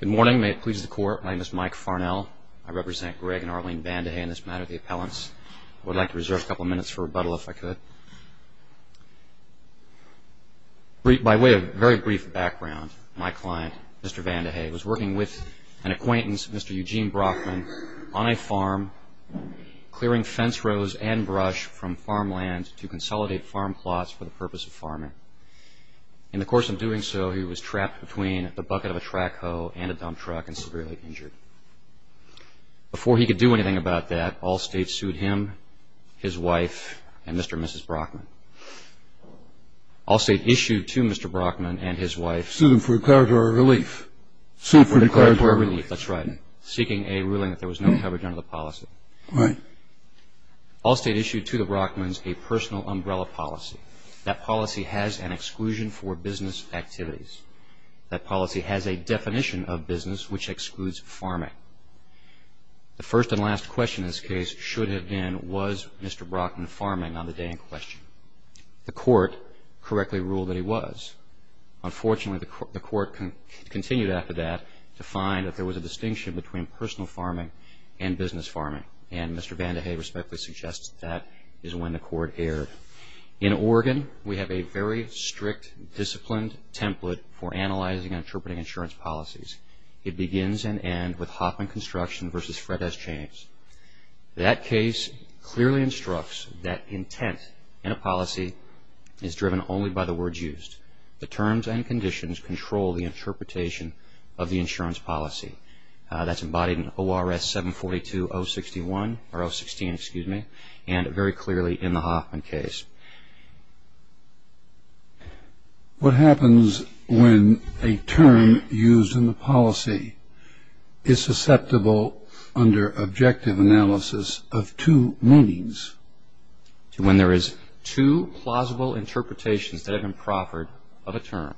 Good morning. May it please the Court. My name is Mike Farnell. I represent Greg and Arlene Vandehey in this matter of the Appellants. I would like to reserve a couple of minutes for rebuttal, if I could. By way of very brief background, my client, Mr. Vandehey, was working with an acquaintance, Mr. Eugene Brockman, on a farm, clearing fence rows and brush from farmland to consolidate farm plots for the purpose of farming. In the course of doing so, he was trapped between the bucket of a track hoe and a dump truck and severely injured. Before he could do anything about that, Allstate sued him, his wife, and Mr. and Mrs. Brockman. Allstate issued to Mr. Brockman and his wife... Sued them for declaratory relief. Sued them for declaratory relief, that's right, seeking a ruling that there was no coverage under the policy. Allstate issued to the Brockmans a personal umbrella policy. That policy has an exclusion for business activities. That policy has a definition of business which excludes farming. The first and last question in this case should have been, was Mr. Brockman farming on the day in question? The Court correctly ruled that he was. Unfortunately, the Court continued after that to find that there was a distinction between personal farming and business farming. And Mr. Vandehey respectfully suggests that is when the Court erred. In Oregon, we have a very strict, disciplined template for analyzing and interpreting insurance policies. It begins and ends with Hoffman Construction v. Fred S. James. That case clearly instructs that intent in a policy is driven only by the words used. The terms and conditions control the interpretation of the insurance policy. That's embodied in ORS 742-061, or 016, excuse me, and very clearly in the Hoffman case. What happens when a term used in the policy is susceptible under objective analysis of two meanings? When there is two plausible interpretations that have been proffered of a term,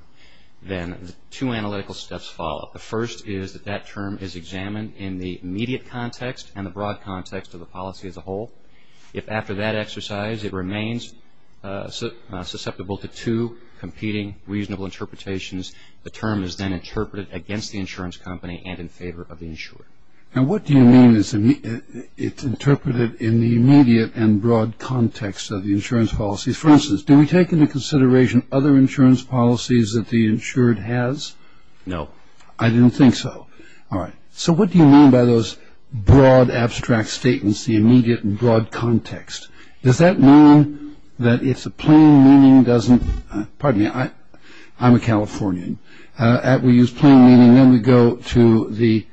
then two analytical steps follow. The first is that that term is examined in the immediate context and the broad context of the policy as a whole. If after that exercise it remains susceptible to two competing reasonable interpretations, the term is then interpreted against the insurance company and in favor of the insurer. And what do you mean it's interpreted in the immediate and broad context of the insurance policies? For instance, do we take into consideration other insurance policies that the insured has? No. I didn't think so. All right. So what do you mean by those broad abstract statements, the immediate and broad context? Does that mean that if the plain meaning doesn't, pardon me, I'm a Californian, that we use plain meaning and then we go to the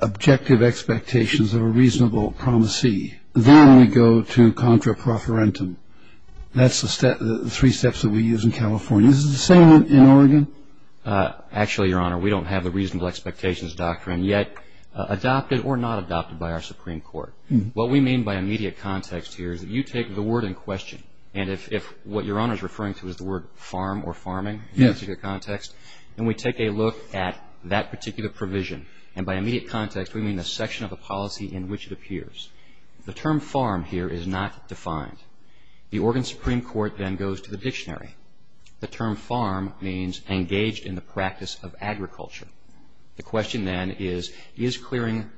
objective expectations of a reasonable promisee, then we go to contra profferentum. That's the three steps that we use in California. Is it the same in Oregon? Actually, Your Honor, we don't have the reasonable expectations doctrine yet adopted or not adopted by our Supreme Court. What we mean by immediate context here is that you take the word in question, and if what Your Honor is referring to is the word farm or farming in the immediate context, then we take a look at that particular provision. And by immediate context, we mean the section of the policy in which it appears. The term farm here is not defined. The Oregon Supreme Court then goes to the dictionary. The term farm means engaged in the practice of agriculture. The question then is, is clearing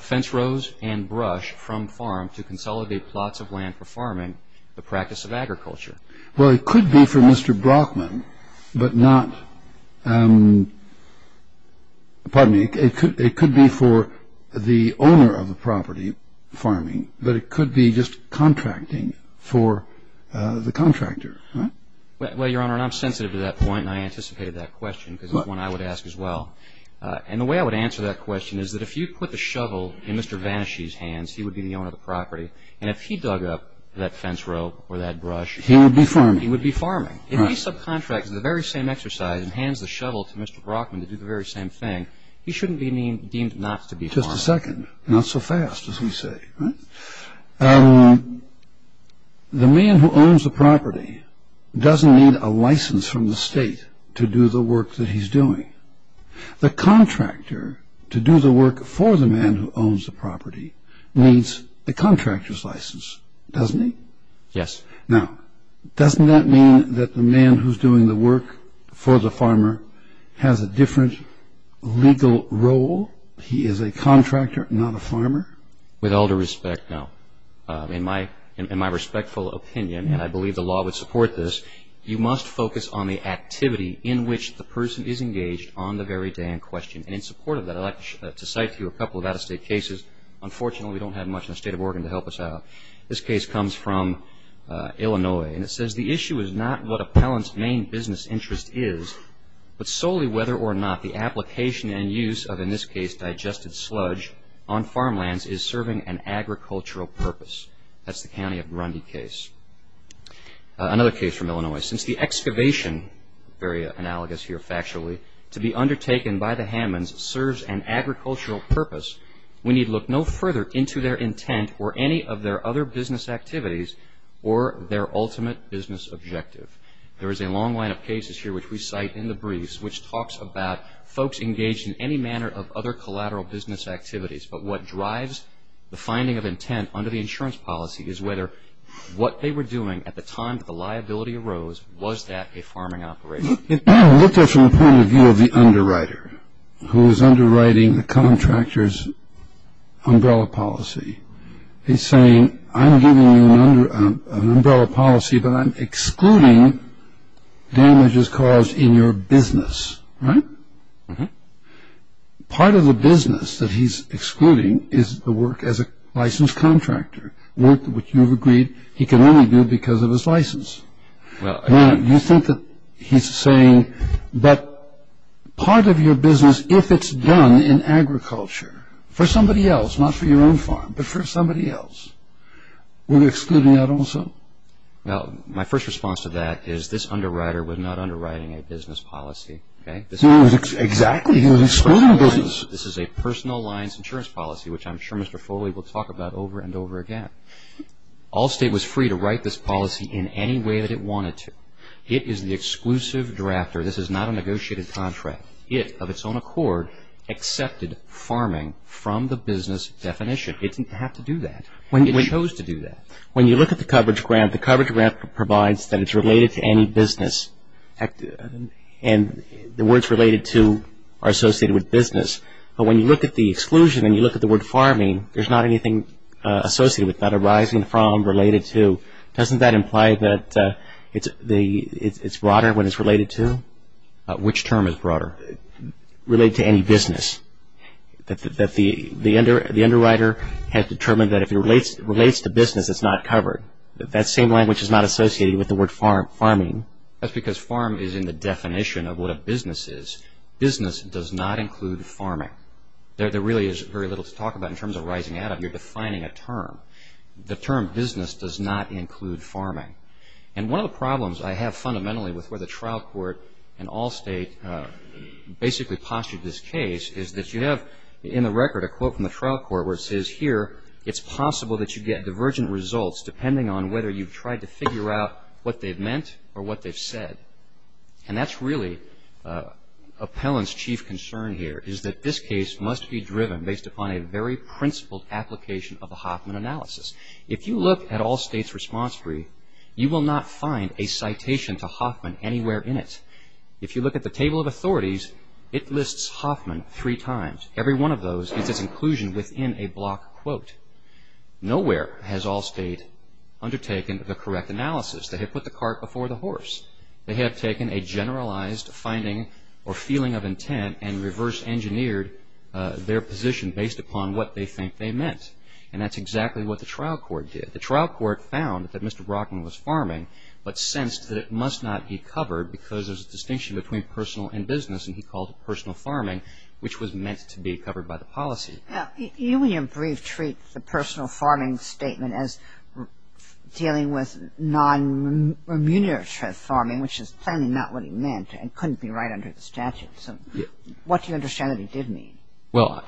fence rows and brush from farm to consolidate plots of land for farming the practice of agriculture? Well, it could be for Mr. Brockman, but not, pardon me, it could be for the owner of the property, farming, but it could be just contracting for the contractor, right? Well, Your Honor, I'm sensitive to that point, and I anticipated that question because it's one I would ask as well. And the way I would answer that question is that if you put the shovel in Mr. Vanashee's hands, he would be the owner of the property, and if he dug up that fence row or that brush, he would be farming. He would be farming. If he subcontracts the very same exercise and hands the shovel to Mr. Brockman to do the very same thing, he shouldn't be deemed not to be farming. Just a second. Not so fast, as we say. The man who owns the property doesn't need a license from the state to do the work that he's doing. The contractor to do the work for the man who owns the property needs the contractor's license, doesn't he? Yes. Now, doesn't that mean that the man who's doing the work for the farmer has a different legal role? He is a contractor, not a farmer? With all due respect, no. In my respectful opinion, and I believe the law would support this, you must focus on the activity in which the person is engaged on the very day in question. And in support of that, I'd like to cite to you a couple of out-of-state cases. Unfortunately, we don't have much in the state of Oregon to help us out. This case comes from Illinois, and it says, The issue is not what appellant's main business interest is, but solely whether or not the application and use of, in this case, digested sludge on farmlands is serving an agricultural purpose. That's the county of Grundy case. Another case from Illinois. Since the excavation, very analogous here factually, to be undertaken by the Hammonds serves an agricultural purpose, we need look no further into their intent or any of their other business activities or their ultimate business objective. There is a long line of cases here, which we cite in the briefs, which talks about folks engaged in any manner of other collateral business activities, but what drives the finding of intent under the insurance policy is whether what they were doing at the time that the liability arose, was that a farming operation? It looked at from the point of view of the underwriter, who was underwriting the contractor's umbrella policy. He's saying, I'm giving you an umbrella policy, but I'm excluding damages caused in your business, right? Part of the business that he's excluding is the work as a licensed contractor, work which you've agreed he can only do because of his license. You think that he's saying, but part of your business, if it's done in agriculture for somebody else, not for your own farm, but for somebody else, would it exclude that also? Well, my first response to that is this underwriter was not underwriting a business policy. Exactly, he was excluding business. This is a personal lines insurance policy, which I'm sure Mr. Foley will talk about over and over again. Allstate was free to write this policy in any way that it wanted to. It is the exclusive drafter. This is not a negotiated contract. It, of its own accord, accepted farming from the business definition. It didn't have to do that. It chose to do that. When you look at the coverage grant, the coverage grant provides that it's related to any business, and the words related to are associated with business. But when you look at the exclusion and you look at the word farming, there's not anything associated with that, arising from, related to. Doesn't that imply that it's broader when it's related to? Which term is broader? Related to any business. The underwriter had determined that if it relates to business, it's not covered. That same language is not associated with the word farming. That's because farm is in the definition of what a business is. Business does not include farming. There really is very little to talk about in terms of rising out of. You're defining a term. The term business does not include farming. One of the problems I have fundamentally with where the trial court and Allstate basically postulate this case is that you have, in the record, a quote from the trial court where it says, here it's possible that you get divergent results depending on whether you've tried to figure out what they've meant or what they've said. That's really Appellant's chief concern here, is that this case must be driven based upon a very principled application of the Hoffman analysis. If you look at Allstate's response brief, you will not find a citation to Hoffman anywhere in it. If you look at the table of authorities, it lists Hoffman three times. Every one of those is its inclusion within a block quote. Nowhere has Allstate undertaken the correct analysis. They have put the cart before the horse. They have taken a generalized finding or feeling of intent and reverse engineered their position based upon what they think they meant. And that's exactly what the trial court did. The trial court found that Mr. Brockman was farming, but sensed that it must not be covered because there's a distinction between personal and business, and he called it personal farming, which was meant to be covered by the policy. Now, you in your brief treat the personal farming statement as dealing with non-remunerative farming, which is plainly not what he meant and couldn't be right under the statute. What do you understand that he did mean? Well,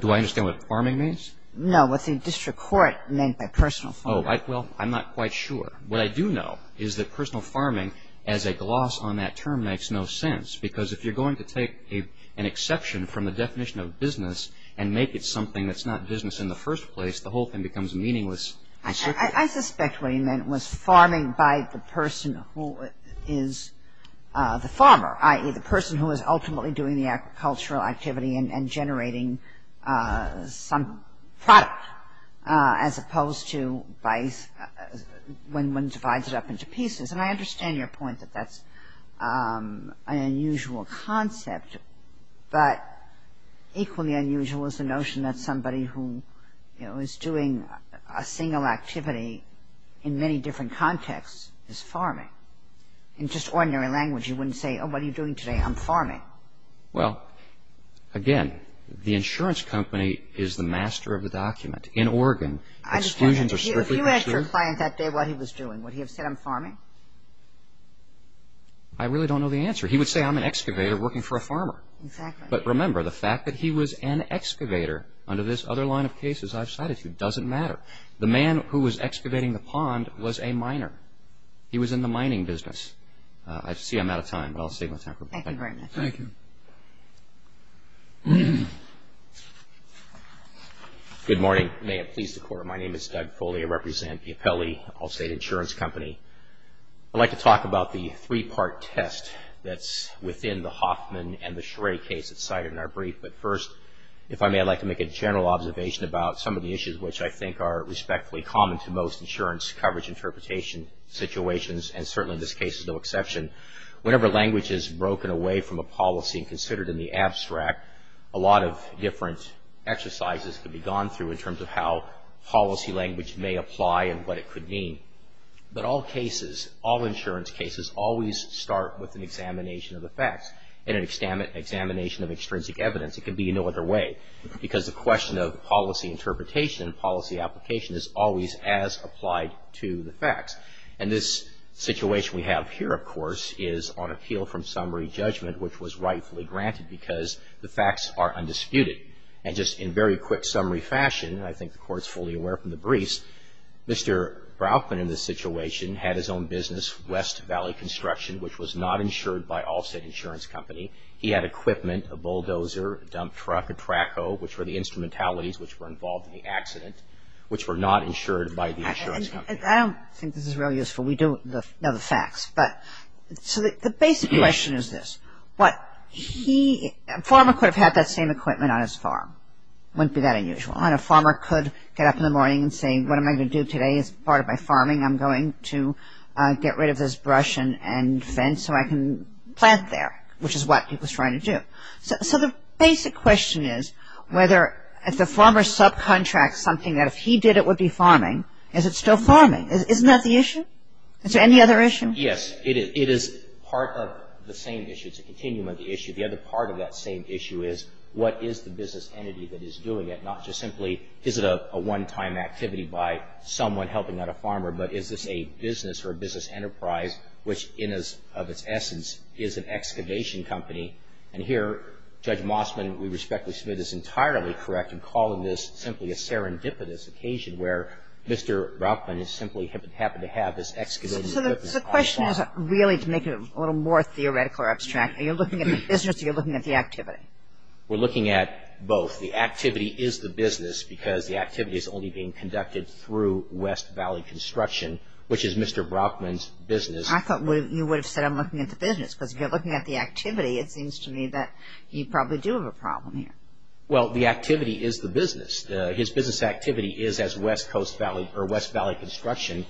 do I understand what farming means? No, what the district court meant by personal farming. Oh, well, I'm not quite sure. What I do know is that personal farming as a gloss on that term makes no sense because if you're going to take an exception from the definition of business and make it something that's not business in the first place, the whole thing becomes meaningless. I suspect what he meant was farming by the person who is the farmer, i.e., the person who is ultimately doing the agricultural activity and generating some product as opposed to when one divides it up into pieces. And I understand your point that that's an unusual concept, but equally unusual is the notion that somebody who is doing a single activity in many different contexts is farming. In just ordinary language you wouldn't say, oh, what are you doing today? I'm farming. Why? Well, again, the insurance company is the master of the document. In Oregon, exclusions are strictly for sure. If you asked your client that day what he was doing, would he have said I'm farming? I really don't know the answer. He would say I'm an excavator working for a farmer. Exactly. But remember, the fact that he was an excavator under this other line of cases I've cited doesn't matter. The man who was excavating the pond was a miner. He was in the mining business. I see I'm out of time, but I'll save my time. Thank you very much. Thank you. Good morning. May it please the Court. My name is Doug Foley. I represent the Apelli Allstate Insurance Company. I'd like to talk about the three-part test that's within the Hoffman and the Schrae case that's cited in our brief. But first, if I may, I'd like to make a general observation about some of the issues which I think are respectfully common to most insurance coverage interpretation situations, and certainly this case is no exception. Whenever language is broken away from a policy and considered in the abstract, a lot of different exercises can be gone through in terms of how policy language may apply and what it could mean. But all cases, all insurance cases, always start with an examination of the facts and an examination of extrinsic evidence. It can be no other way because the question of policy interpretation and policy application is always as applied to the facts. And this situation we have here, of course, is on appeal from summary judgment, which was rightfully granted because the facts are undisputed. And just in very quick summary fashion, and I think the Court's fully aware from the briefs, Mr. Brauchman in this situation had his own business, West Valley Construction, which was not insured by Allstate Insurance Company. He had equipment, a bulldozer, a dump truck, a track hoe, which were the instrumentalities which were involved in the accident, which were not insured by the insurance company. I don't think this is really useful. We do know the facts. But so the basic question is this. What he – a farmer could have had that same equipment on his farm. It wouldn't be that unusual. And a farmer could get up in the morning and say, what am I going to do today? It's part of my farming. I'm going to get rid of this brush and fence so I can plant there, which is what he was trying to do. So the basic question is whether if the farmer subcontracts something that if he did it would be farming, is it still farming? Isn't that the issue? Is there any other issue? Yes. It is part of the same issue. It's a continuum of the issue. The other part of that same issue is what is the business entity that is doing it? Not just simply is it a one-time activity by someone helping out a farmer, but is this a business or a business enterprise which in a – of its essence is an excavation company? And here Judge Mossman, we respectfully submit, is entirely correct in calling this simply a serendipitous occasion where Mr. Brockman simply happened to have this excavated business. So the question isn't really to make it a little more theoretical or abstract. Are you looking at the business or are you looking at the activity? We're looking at both. The activity is the business because the activity is only being conducted through West Valley Construction, which is Mr. Brockman's business. I thought you would have said I'm looking at the business because if you're looking at the activity, it seems to me that you probably do have a problem here. Well, the activity is the business. His business activity is as West Coast Valley or West Valley Construction.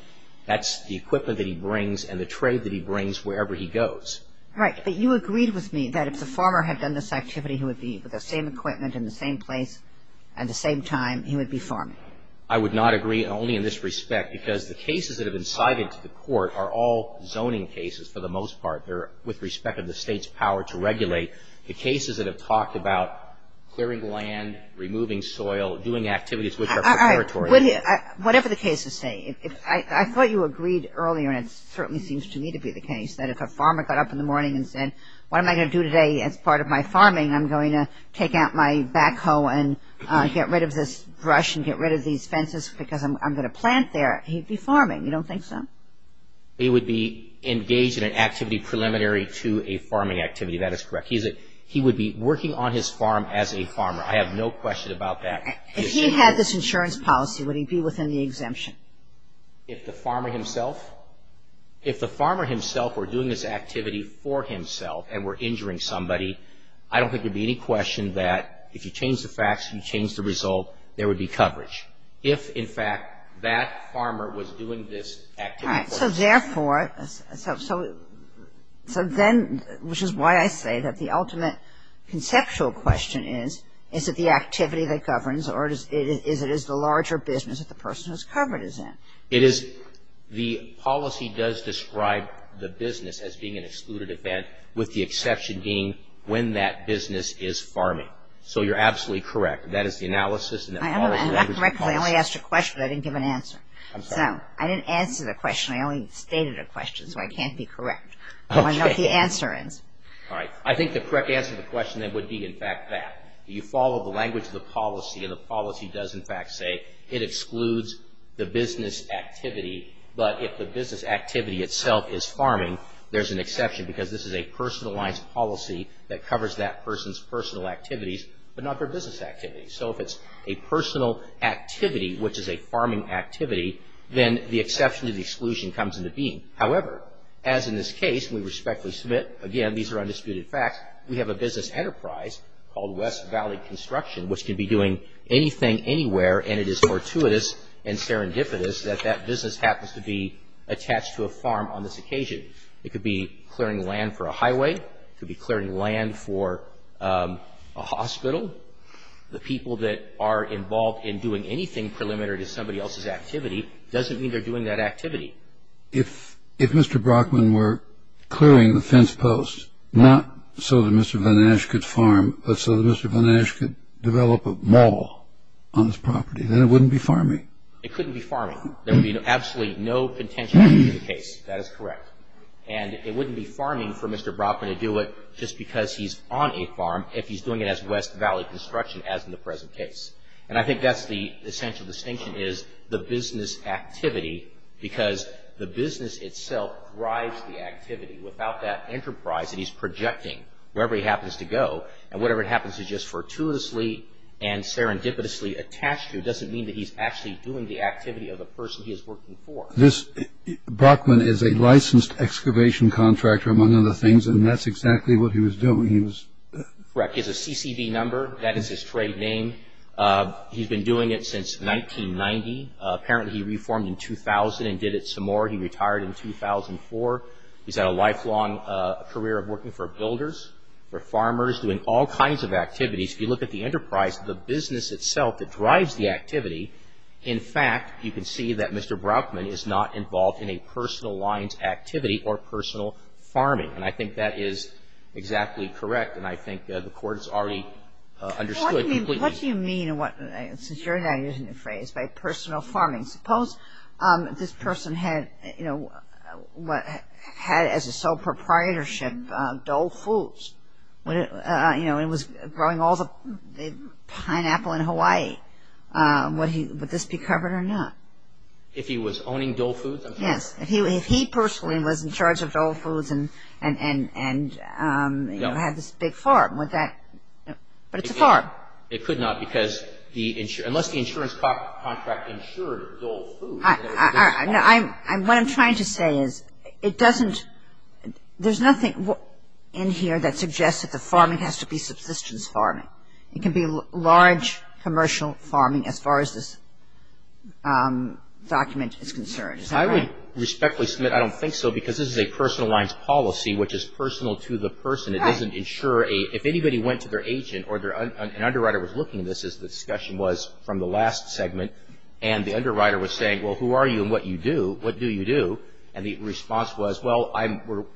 That's the equipment that he brings and the trade that he brings wherever he goes. Right. But you agreed with me that if the farmer had done this activity, he would be with the same equipment in the same place at the same time, he would be farming. I would not agree only in this respect because the cases that have been cited to the court are all zoning cases for the most part. They're with respect of the state's power to regulate. The cases that have talked about clearing land, removing soil, doing activities which are preparatory. Whatever the cases say. I thought you agreed earlier and it certainly seems to me to be the case that if a farmer got up in the morning and said what am I going to do today as part of my farming? I'm going to take out my backhoe and get rid of this brush and get rid of these fences because I'm going to plant there. He'd be farming. You don't think so? He would be engaged in an activity preliminary to a farming activity. That is correct. He would be working on his farm as a farmer. I have no question about that. If he had this insurance policy, would he be within the exemption? If the farmer himself? If the farmer himself were doing this activity for himself and were injuring somebody, I don't think there would be any question that if you change the facts, you change the result, there would be coverage. If, in fact, that farmer was doing this activity for himself. All right. So therefore, so then, which is why I say that the ultimate conceptual question is, is it the activity that governs or is it the larger business that the person who's covered is in? It is the policy does describe the business as being an excluded event with the exception being when that business is farming. So you're absolutely correct. That is the analysis and the policy. I didn't give an answer. I'm sorry. This is a question. I only stated a question, so I can't be correct. I want to know what the answer is. All right. I think the correct answer to the question then would be, in fact, that. You follow the language of the policy, and the policy does, in fact, say it excludes the business activity. But if the business activity itself is farming, there's an exception because this is a personalized policy that covers that person's personal activities but not their business activities. So if it's a personal activity, which is a farming activity, then the exception to the exclusion comes into being. However, as in this case, we respectfully submit, again, these are undisputed facts, we have a business enterprise called West Valley Construction, which can be doing anything, anywhere, and it is fortuitous and serendipitous that that business happens to be attached to a farm on this occasion. It could be clearing land for a highway. It could be clearing land for a hospital. The people that are involved in doing anything preliminary to somebody else's activity doesn't mean they're doing that activity. If Mr. Brockman were clearing the fence post, not so that Mr. Van Asch could farm, but so that Mr. Van Asch could develop a mall on this property, then it wouldn't be farming. It couldn't be farming. There would be absolutely no contention in the case. That is correct. And it wouldn't be farming for Mr. Brockman to do it just because he's on a farm, if he's doing it as West Valley Construction, as in the present case. And I think that's the essential distinction, is the business activity, because the business itself drives the activity. Without that enterprise that he's projecting, wherever he happens to go, and whatever it happens to just fortuitously and serendipitously attach to, doesn't mean that he's actually doing the activity of the person he is working for. Brockman is a licensed excavation contractor, among other things, and that's exactly what he was doing. Correct. He has a CCB number. That is his trade name. He's been doing it since 1990. Apparently, he reformed in 2000 and did it some more. He retired in 2004. He's had a lifelong career of working for builders, for farmers, doing all kinds of activities. If you look at the enterprise, the business itself that drives the activity, in fact, you can see that Mr. Brockman is not involved in a personal lines activity or personal farming, and I think that is exactly correct, and I think the Court has already understood. What do you mean, since you're now using the phrase, by personal farming? Suppose this person had, you know, had as a sole proprietorship Dole Foods. Would this be covered or not? If he was owning Dole Foods? Yes. If he personally was in charge of Dole Foods and, you know, had this big farm, would that? But it's a farm. It could not because unless the insurance contract insured Dole Foods. What I'm trying to say is it doesn't – there's nothing in here that suggests that the farming has to be subsistence farming. It can be large commercial farming as far as this document is concerned. Is that right? I would respectfully submit I don't think so because this is a personal lines policy, which is personal to the person. It doesn't insure a – if anybody went to their agent or their – an underwriter was looking at this as the discussion was from the last segment and the underwriter was saying, well, who are you and what do you do? And the response was, well,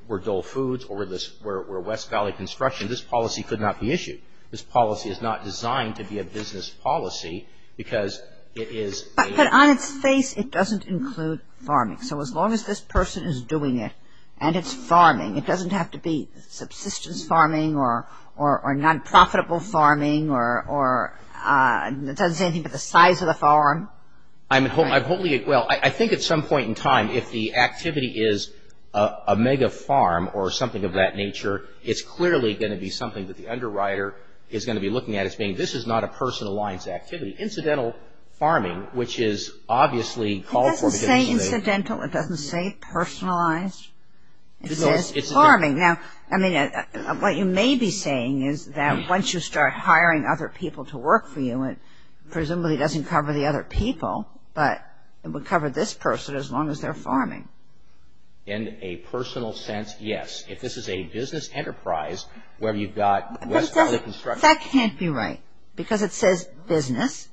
we're Dole Foods or we're West Valley Construction. This policy could not be issued. This policy is not designed to be a business policy because it is a – But on its face it doesn't include farming. So as long as this person is doing it and it's farming, it doesn't have to be subsistence farming or non-profitable farming or it doesn't say anything about the size of the farm. I'm – well, I think at some point in time if the activity is a mega farm or something of that nature, it's clearly going to be something that the underwriter is going to be looking at as being this is not a personal lines activity. Incidental farming, which is obviously called for – It doesn't say incidental. It doesn't say personalized. It says farming. Now, I mean, what you may be saying is that once you start hiring other people to work for you, it presumably doesn't cover the other people, but it would cover this person as long as they're farming. In a personal sense, yes. If this is a business enterprise where you've got – That can't be right because it says business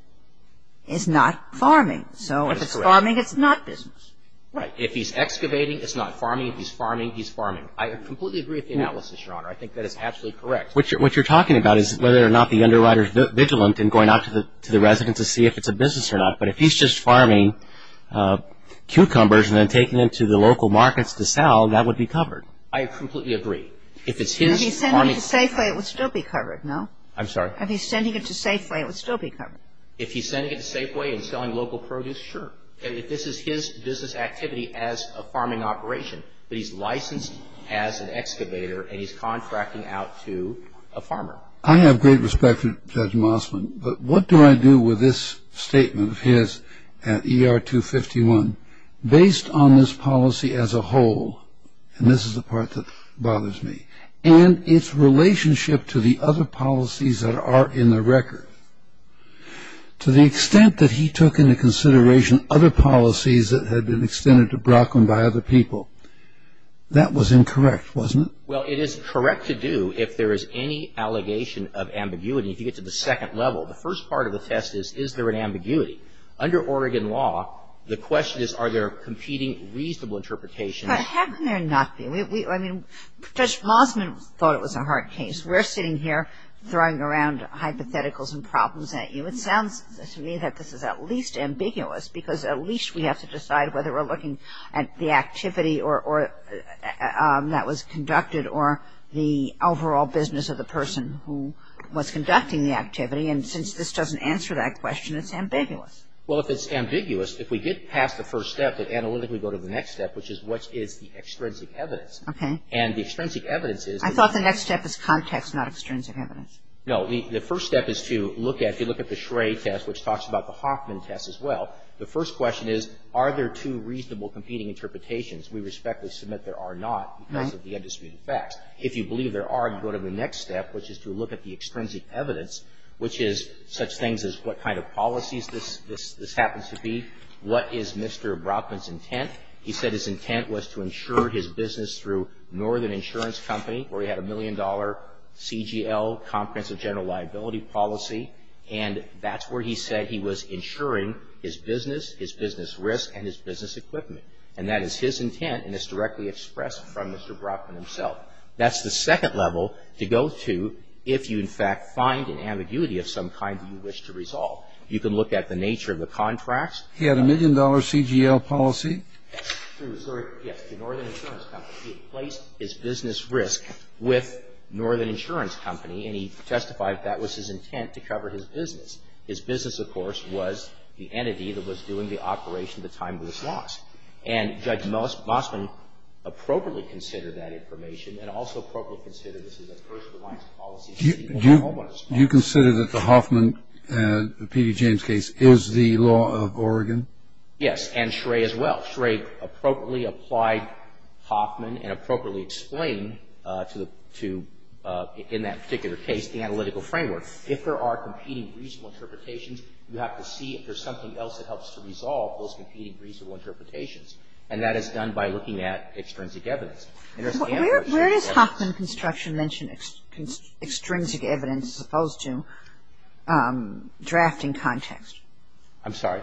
is not farming. So if it's farming, it's not business. Right. If he's excavating, it's not farming. If he's farming, he's farming. I completely agree with the analysis, Your Honor. I think that is absolutely correct. What you're talking about is whether or not the underwriter is vigilant in going out to the resident to see if it's a business or not. But if he's just farming cucumbers and then taking them to the local markets to sell, that would be covered. I completely agree. If it's his farming – If he's sending it to Safeway, it would still be covered, no? I'm sorry? If he's sending it to Safeway, it would still be covered. If he's sending it to Safeway and selling local produce, sure. If this is his business activity as a farming operation, but he's licensed as an excavator and he's contracting out to a farmer. I have great respect for Judge Mossman, but what do I do with this statement of his at ER 251 based on this policy as a whole? And this is the part that bothers me. And its relationship to the other policies that are in the record. To the extent that he took into consideration other policies that had been extended to Brockland by other people. That was incorrect, wasn't it? Well, it is correct to do if there is any allegation of ambiguity. If you get to the second level, the first part of the test is, is there an ambiguity? Under Oregon law, the question is, are there competing reasonable interpretations? But how can there not be? I mean, Judge Mossman thought it was a hard case. We're sitting here throwing around hypotheticals and problems at you. It sounds to me that this is at least ambiguous, because at least we have to decide whether we're looking at the activity that was conducted or the overall business of the person who was conducting the activity. And since this doesn't answer that question, it's ambiguous. Well, if it's ambiguous, if we get past the first step and analytically go to the next step, which is what is the extrinsic evidence. Okay. And the extrinsic evidence is. I thought the next step is context, not extrinsic evidence. No. The first step is to look at, if you look at the Shrae test, which talks about the Hoffman test as well, the first question is, are there two reasonable competing interpretations? We respectfully submit there are not, because of the undisputed facts. If you believe there are, you go to the next step, which is to look at the extrinsic evidence, which is such things as what kind of policies this happens to be, what is Mr. Brockman's intent. He said his intent was to insure his business through Northern Insurance Company, where he had a million-dollar CGL, comprehensive general liability policy. And that's where he said he was insuring his business, his business risk, and his business equipment. And that is his intent, and it's directly expressed from Mr. Brockman himself. That's the second level to go to if you, in fact, find an ambiguity of some kind that you wish to resolve. You can look at the nature of the contracts. He had a million-dollar CGL policy. True. Yes. Through Northern Insurance Company. He had placed his business risk with Northern Insurance Company, and he testified that that was his intent to cover his business. His business, of course, was the entity that was doing the operation at the time of this loss. And Judge Mossman appropriately considered that information and also appropriately considered this is a first-of-the-line policy. Do you consider that the Hoffman, P.D. James case, is the law of Oregon? Yes. And Schrae as well. Schrae appropriately applied Hoffman and appropriately explained to the two, in that particular case, the analytical framework. If there are competing reasonable interpretations, you have to see if there's something else that helps to resolve those competing reasonable interpretations. And that is done by looking at extrinsic evidence. Where does Hoffman Construction mention extrinsic evidence as opposed to drafting context? I'm sorry?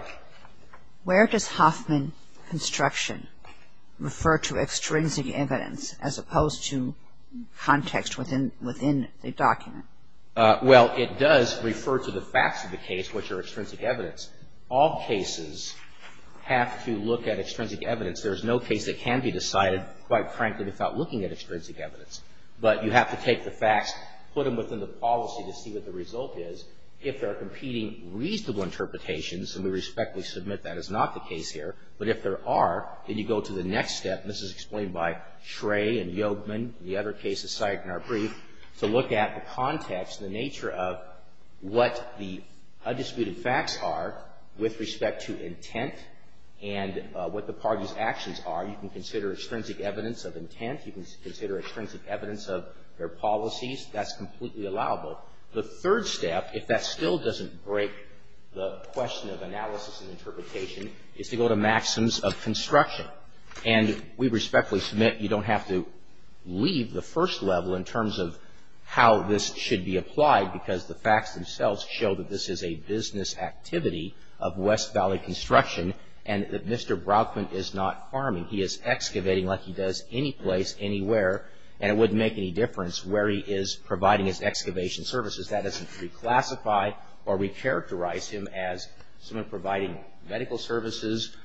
Where does Hoffman Construction refer to extrinsic evidence as opposed to context within the document? Well, it does refer to the facts of the case, which are extrinsic evidence. All cases have to look at extrinsic evidence. There is no case that can be decided, quite frankly, without looking at extrinsic evidence. But you have to take the facts, put them within the policy to see what the result is. If there are competing reasonable interpretations, and we respectfully submit that is not the case here, but if there are, then you go to the next step. And this is explained by Schrae and Yogevman, the other cases cited in our brief, to look at the context, the nature of what the undisputed facts are with respect to intent and what the parties' actions are. You can consider extrinsic evidence of intent. You can consider extrinsic evidence of their policies. That's completely allowable. The third step, if that still doesn't break the question of analysis and interpretation, is to go to maxims of construction. And we respectfully submit you don't have to leave the first level in terms of how this should be applied, because the facts themselves show that this is a business activity of West Valley Construction, and that Mr. Brauchman is not farming. He is excavating like he does any place, anywhere, and it wouldn't make any difference where he is providing his excavation services. That doesn't reclassify or recharacterize him as someone providing medical services,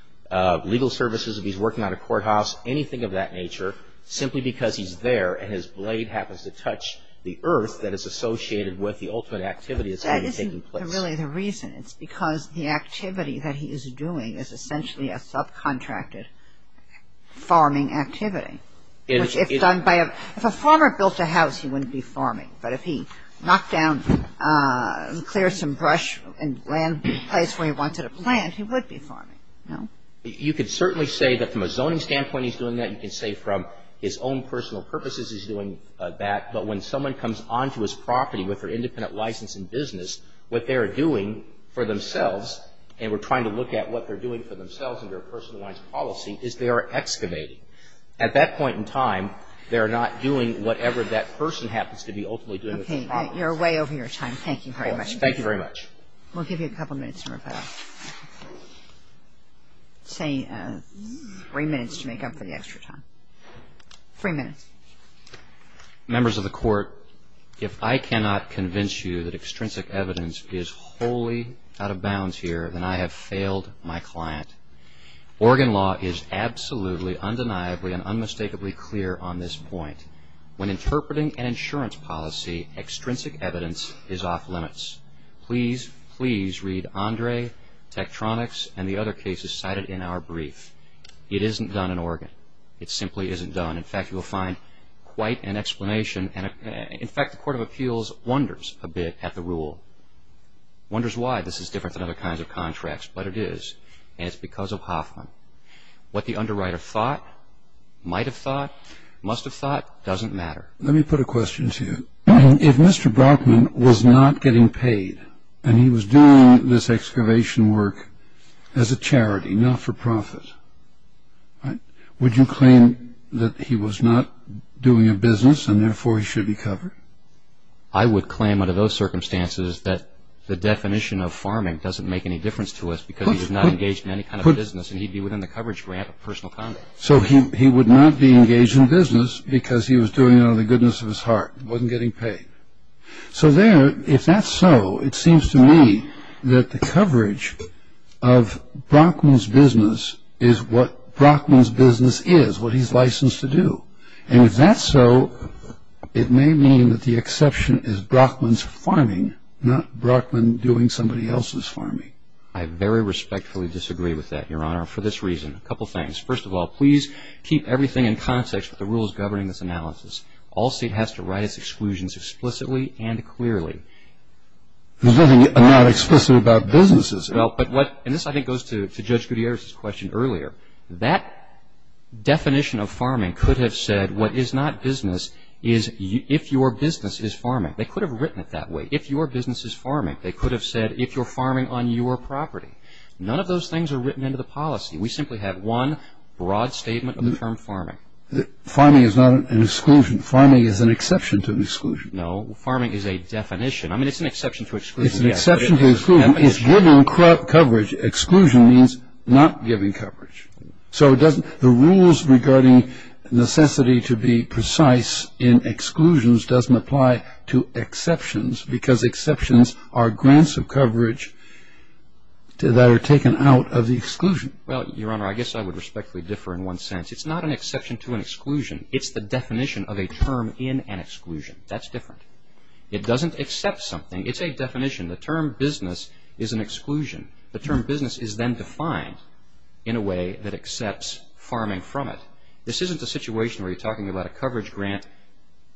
legal services, if he's working on a courthouse, anything of that nature, simply because he's there and his blade happens to touch the earth that is associated with the ultimate activity that's going to be taking place. That isn't really the reason. It's because the activity that he is doing is essentially a subcontracted farming activity. If a farmer built a house, he wouldn't be farming. But if he knocked down and cleared some brush and land, a place where he wanted to plant, he would be farming. No? You could certainly say that from a zoning standpoint he's doing that. You can say from his own personal purposes he's doing that. But when someone comes onto his property with their independent license in business, what they are doing for themselves, and we're trying to look at what they're doing for themselves under a personalized policy, is they are excavating. At that point in time, they are not doing whatever that person happens to be ultimately doing with their property. Okay. You're way over your time. Thank you very much. Thank you very much. We'll give you a couple minutes in rebuttal. Say three minutes to make up for the extra time. Three minutes. Members of the Court, if I cannot convince you that extrinsic evidence is wholly out of bounds here, then I have failed my client. Oregon law is absolutely, undeniably, and unmistakably clear on this point. When interpreting an insurance policy, extrinsic evidence is off limits. Please, please read Andre, Tektronix, and the other cases cited in our brief. It isn't done in Oregon. It simply isn't done. In fact, you will find quite an explanation. In fact, the Court of Appeals wonders a bit at the rule, wonders why this is different than other kinds of contracts. But it is, and it's because of Hoffman. What the underwriter thought, might have thought, must have thought, doesn't matter. Let me put a question to you. If Mr. Brockman was not getting paid and he was doing this excavation work as a charity, not for profit, would you claim that he was not doing a business and, therefore, he should be covered? I would claim, under those circumstances, that the definition of farming doesn't make any difference to us because he's not engaged in any kind of business and he'd be within the coverage grant of personal conduct. So he would not be engaged in business because he was doing it out of the goodness of his heart, wasn't getting paid. So there, if that's so, it seems to me that the coverage of Brockman's business is what Brockman's business is, what he's licensed to do. And if that's so, it may mean that the exception is Brockman's farming, not Brockman doing somebody else's farming. I very respectfully disagree with that, Your Honor, for this reason. A couple things. First of all, please keep everything in context with the rules governing this analysis. All state has to write its exclusions explicitly and clearly. There's nothing not explicit about businesses. And this, I think, goes to Judge Gutierrez's question earlier. That definition of farming could have said what is not business is if your business is farming. They could have written it that way. If your business is farming, they could have said if you're farming on your property. None of those things are written into the policy. We simply have one broad statement of the term farming. Farming is not an exclusion. Farming is an exception to exclusion. No. Farming is a definition. I mean, it's an exception to exclusion, yes. It's an exception to exclusion. Farming is giving coverage. Exclusion means not giving coverage. So the rules regarding necessity to be precise in exclusions doesn't apply to exceptions because exceptions are grants of coverage that are taken out of the exclusion. Well, Your Honor, I guess I would respectfully differ in one sense. It's not an exception to an exclusion. It's the definition of a term in an exclusion. That's different. It doesn't accept something. It's a definition. The term business is an exclusion. The term business is then defined in a way that accepts farming from it. This isn't a situation where you're talking about a coverage grant,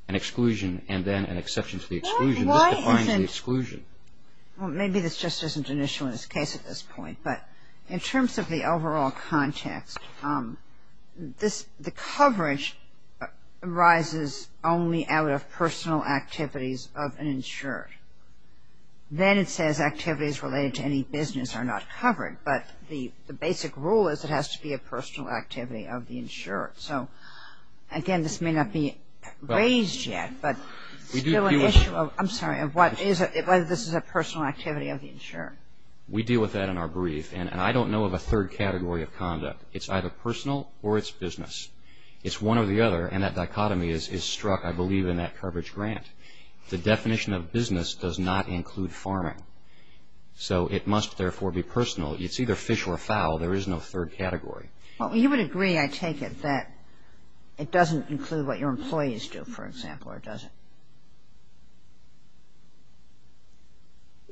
an exclusion, and then an exception to the exclusion. This defines the exclusion. Well, maybe this just isn't an issue in this case at this point. But in terms of the overall context, the coverage arises only out of personal activities of an insured. Then it says activities related to any business are not covered. But the basic rule is it has to be a personal activity of the insured. So, again, this may not be raised yet, but still an issue of, I'm sorry, of whether this is a personal activity of the insured. We deal with that in our brief. And I don't know of a third category of conduct. It's either personal or it's business. It's one or the other, and that dichotomy is struck, I believe, in that coverage grant. The definition of business does not include farming. So it must, therefore, be personal. It's either fish or fowl. There is no third category. You would agree, I take it, that it doesn't include what your employees do, for example, or does it?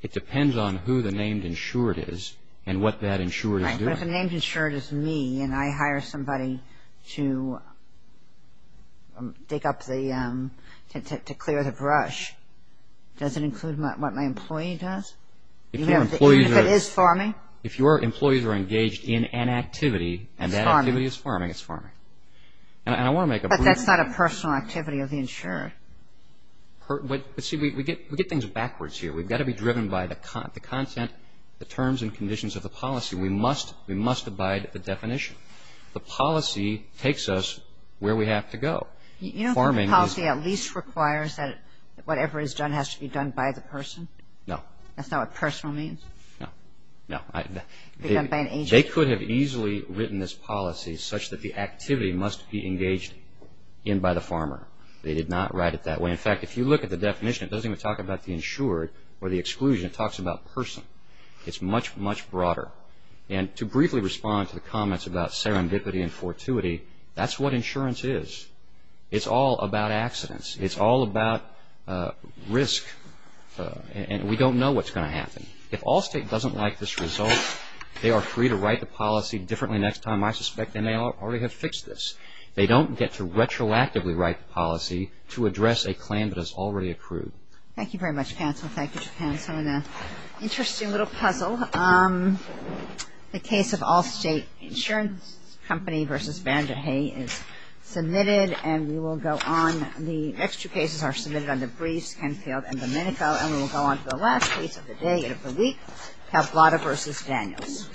It depends on who the named insured is and what that insured is doing. But if the named insured is me and I hire somebody to take up the, to clear the brush, does it include what my employee does? Even if it is farming? If your employees are engaged in an activity and that activity is farming, it's farming. But that's not a personal activity of the insured. But, see, we get things backwards here. We've got to be driven by the content, the terms and conditions of the policy. We must abide by the definition. The policy takes us where we have to go. You don't think the policy at least requires that whatever is done has to be done by the person? No. That's not what personal means? No. No. They could have easily written this policy such that the activity must be engaged in by the farmer. They did not write it that way. In fact, if you look at the definition, it doesn't even talk about the insured or the exclusion. It talks about person. It's much, much broader. And to briefly respond to the comments about serendipity and fortuity, that's what insurance is. It's all about accidents. It's all about risk. And we don't know what's going to happen. If Allstate doesn't like this result, they are free to write the policy differently next time. I suspect they may already have fixed this. They don't get to retroactively write the policy to address a claim that has already accrued. Thank you very much, counsel. Thank you to counsel. We're in an interesting little puzzle. The case of Allstate Insurance Company v. Van der Hay is submitted, and we will go on. The next two cases are submitted under briefs, Kenfield and Domenico, and we will go on to the last case of the day and of the week, Pablada v. Daniels.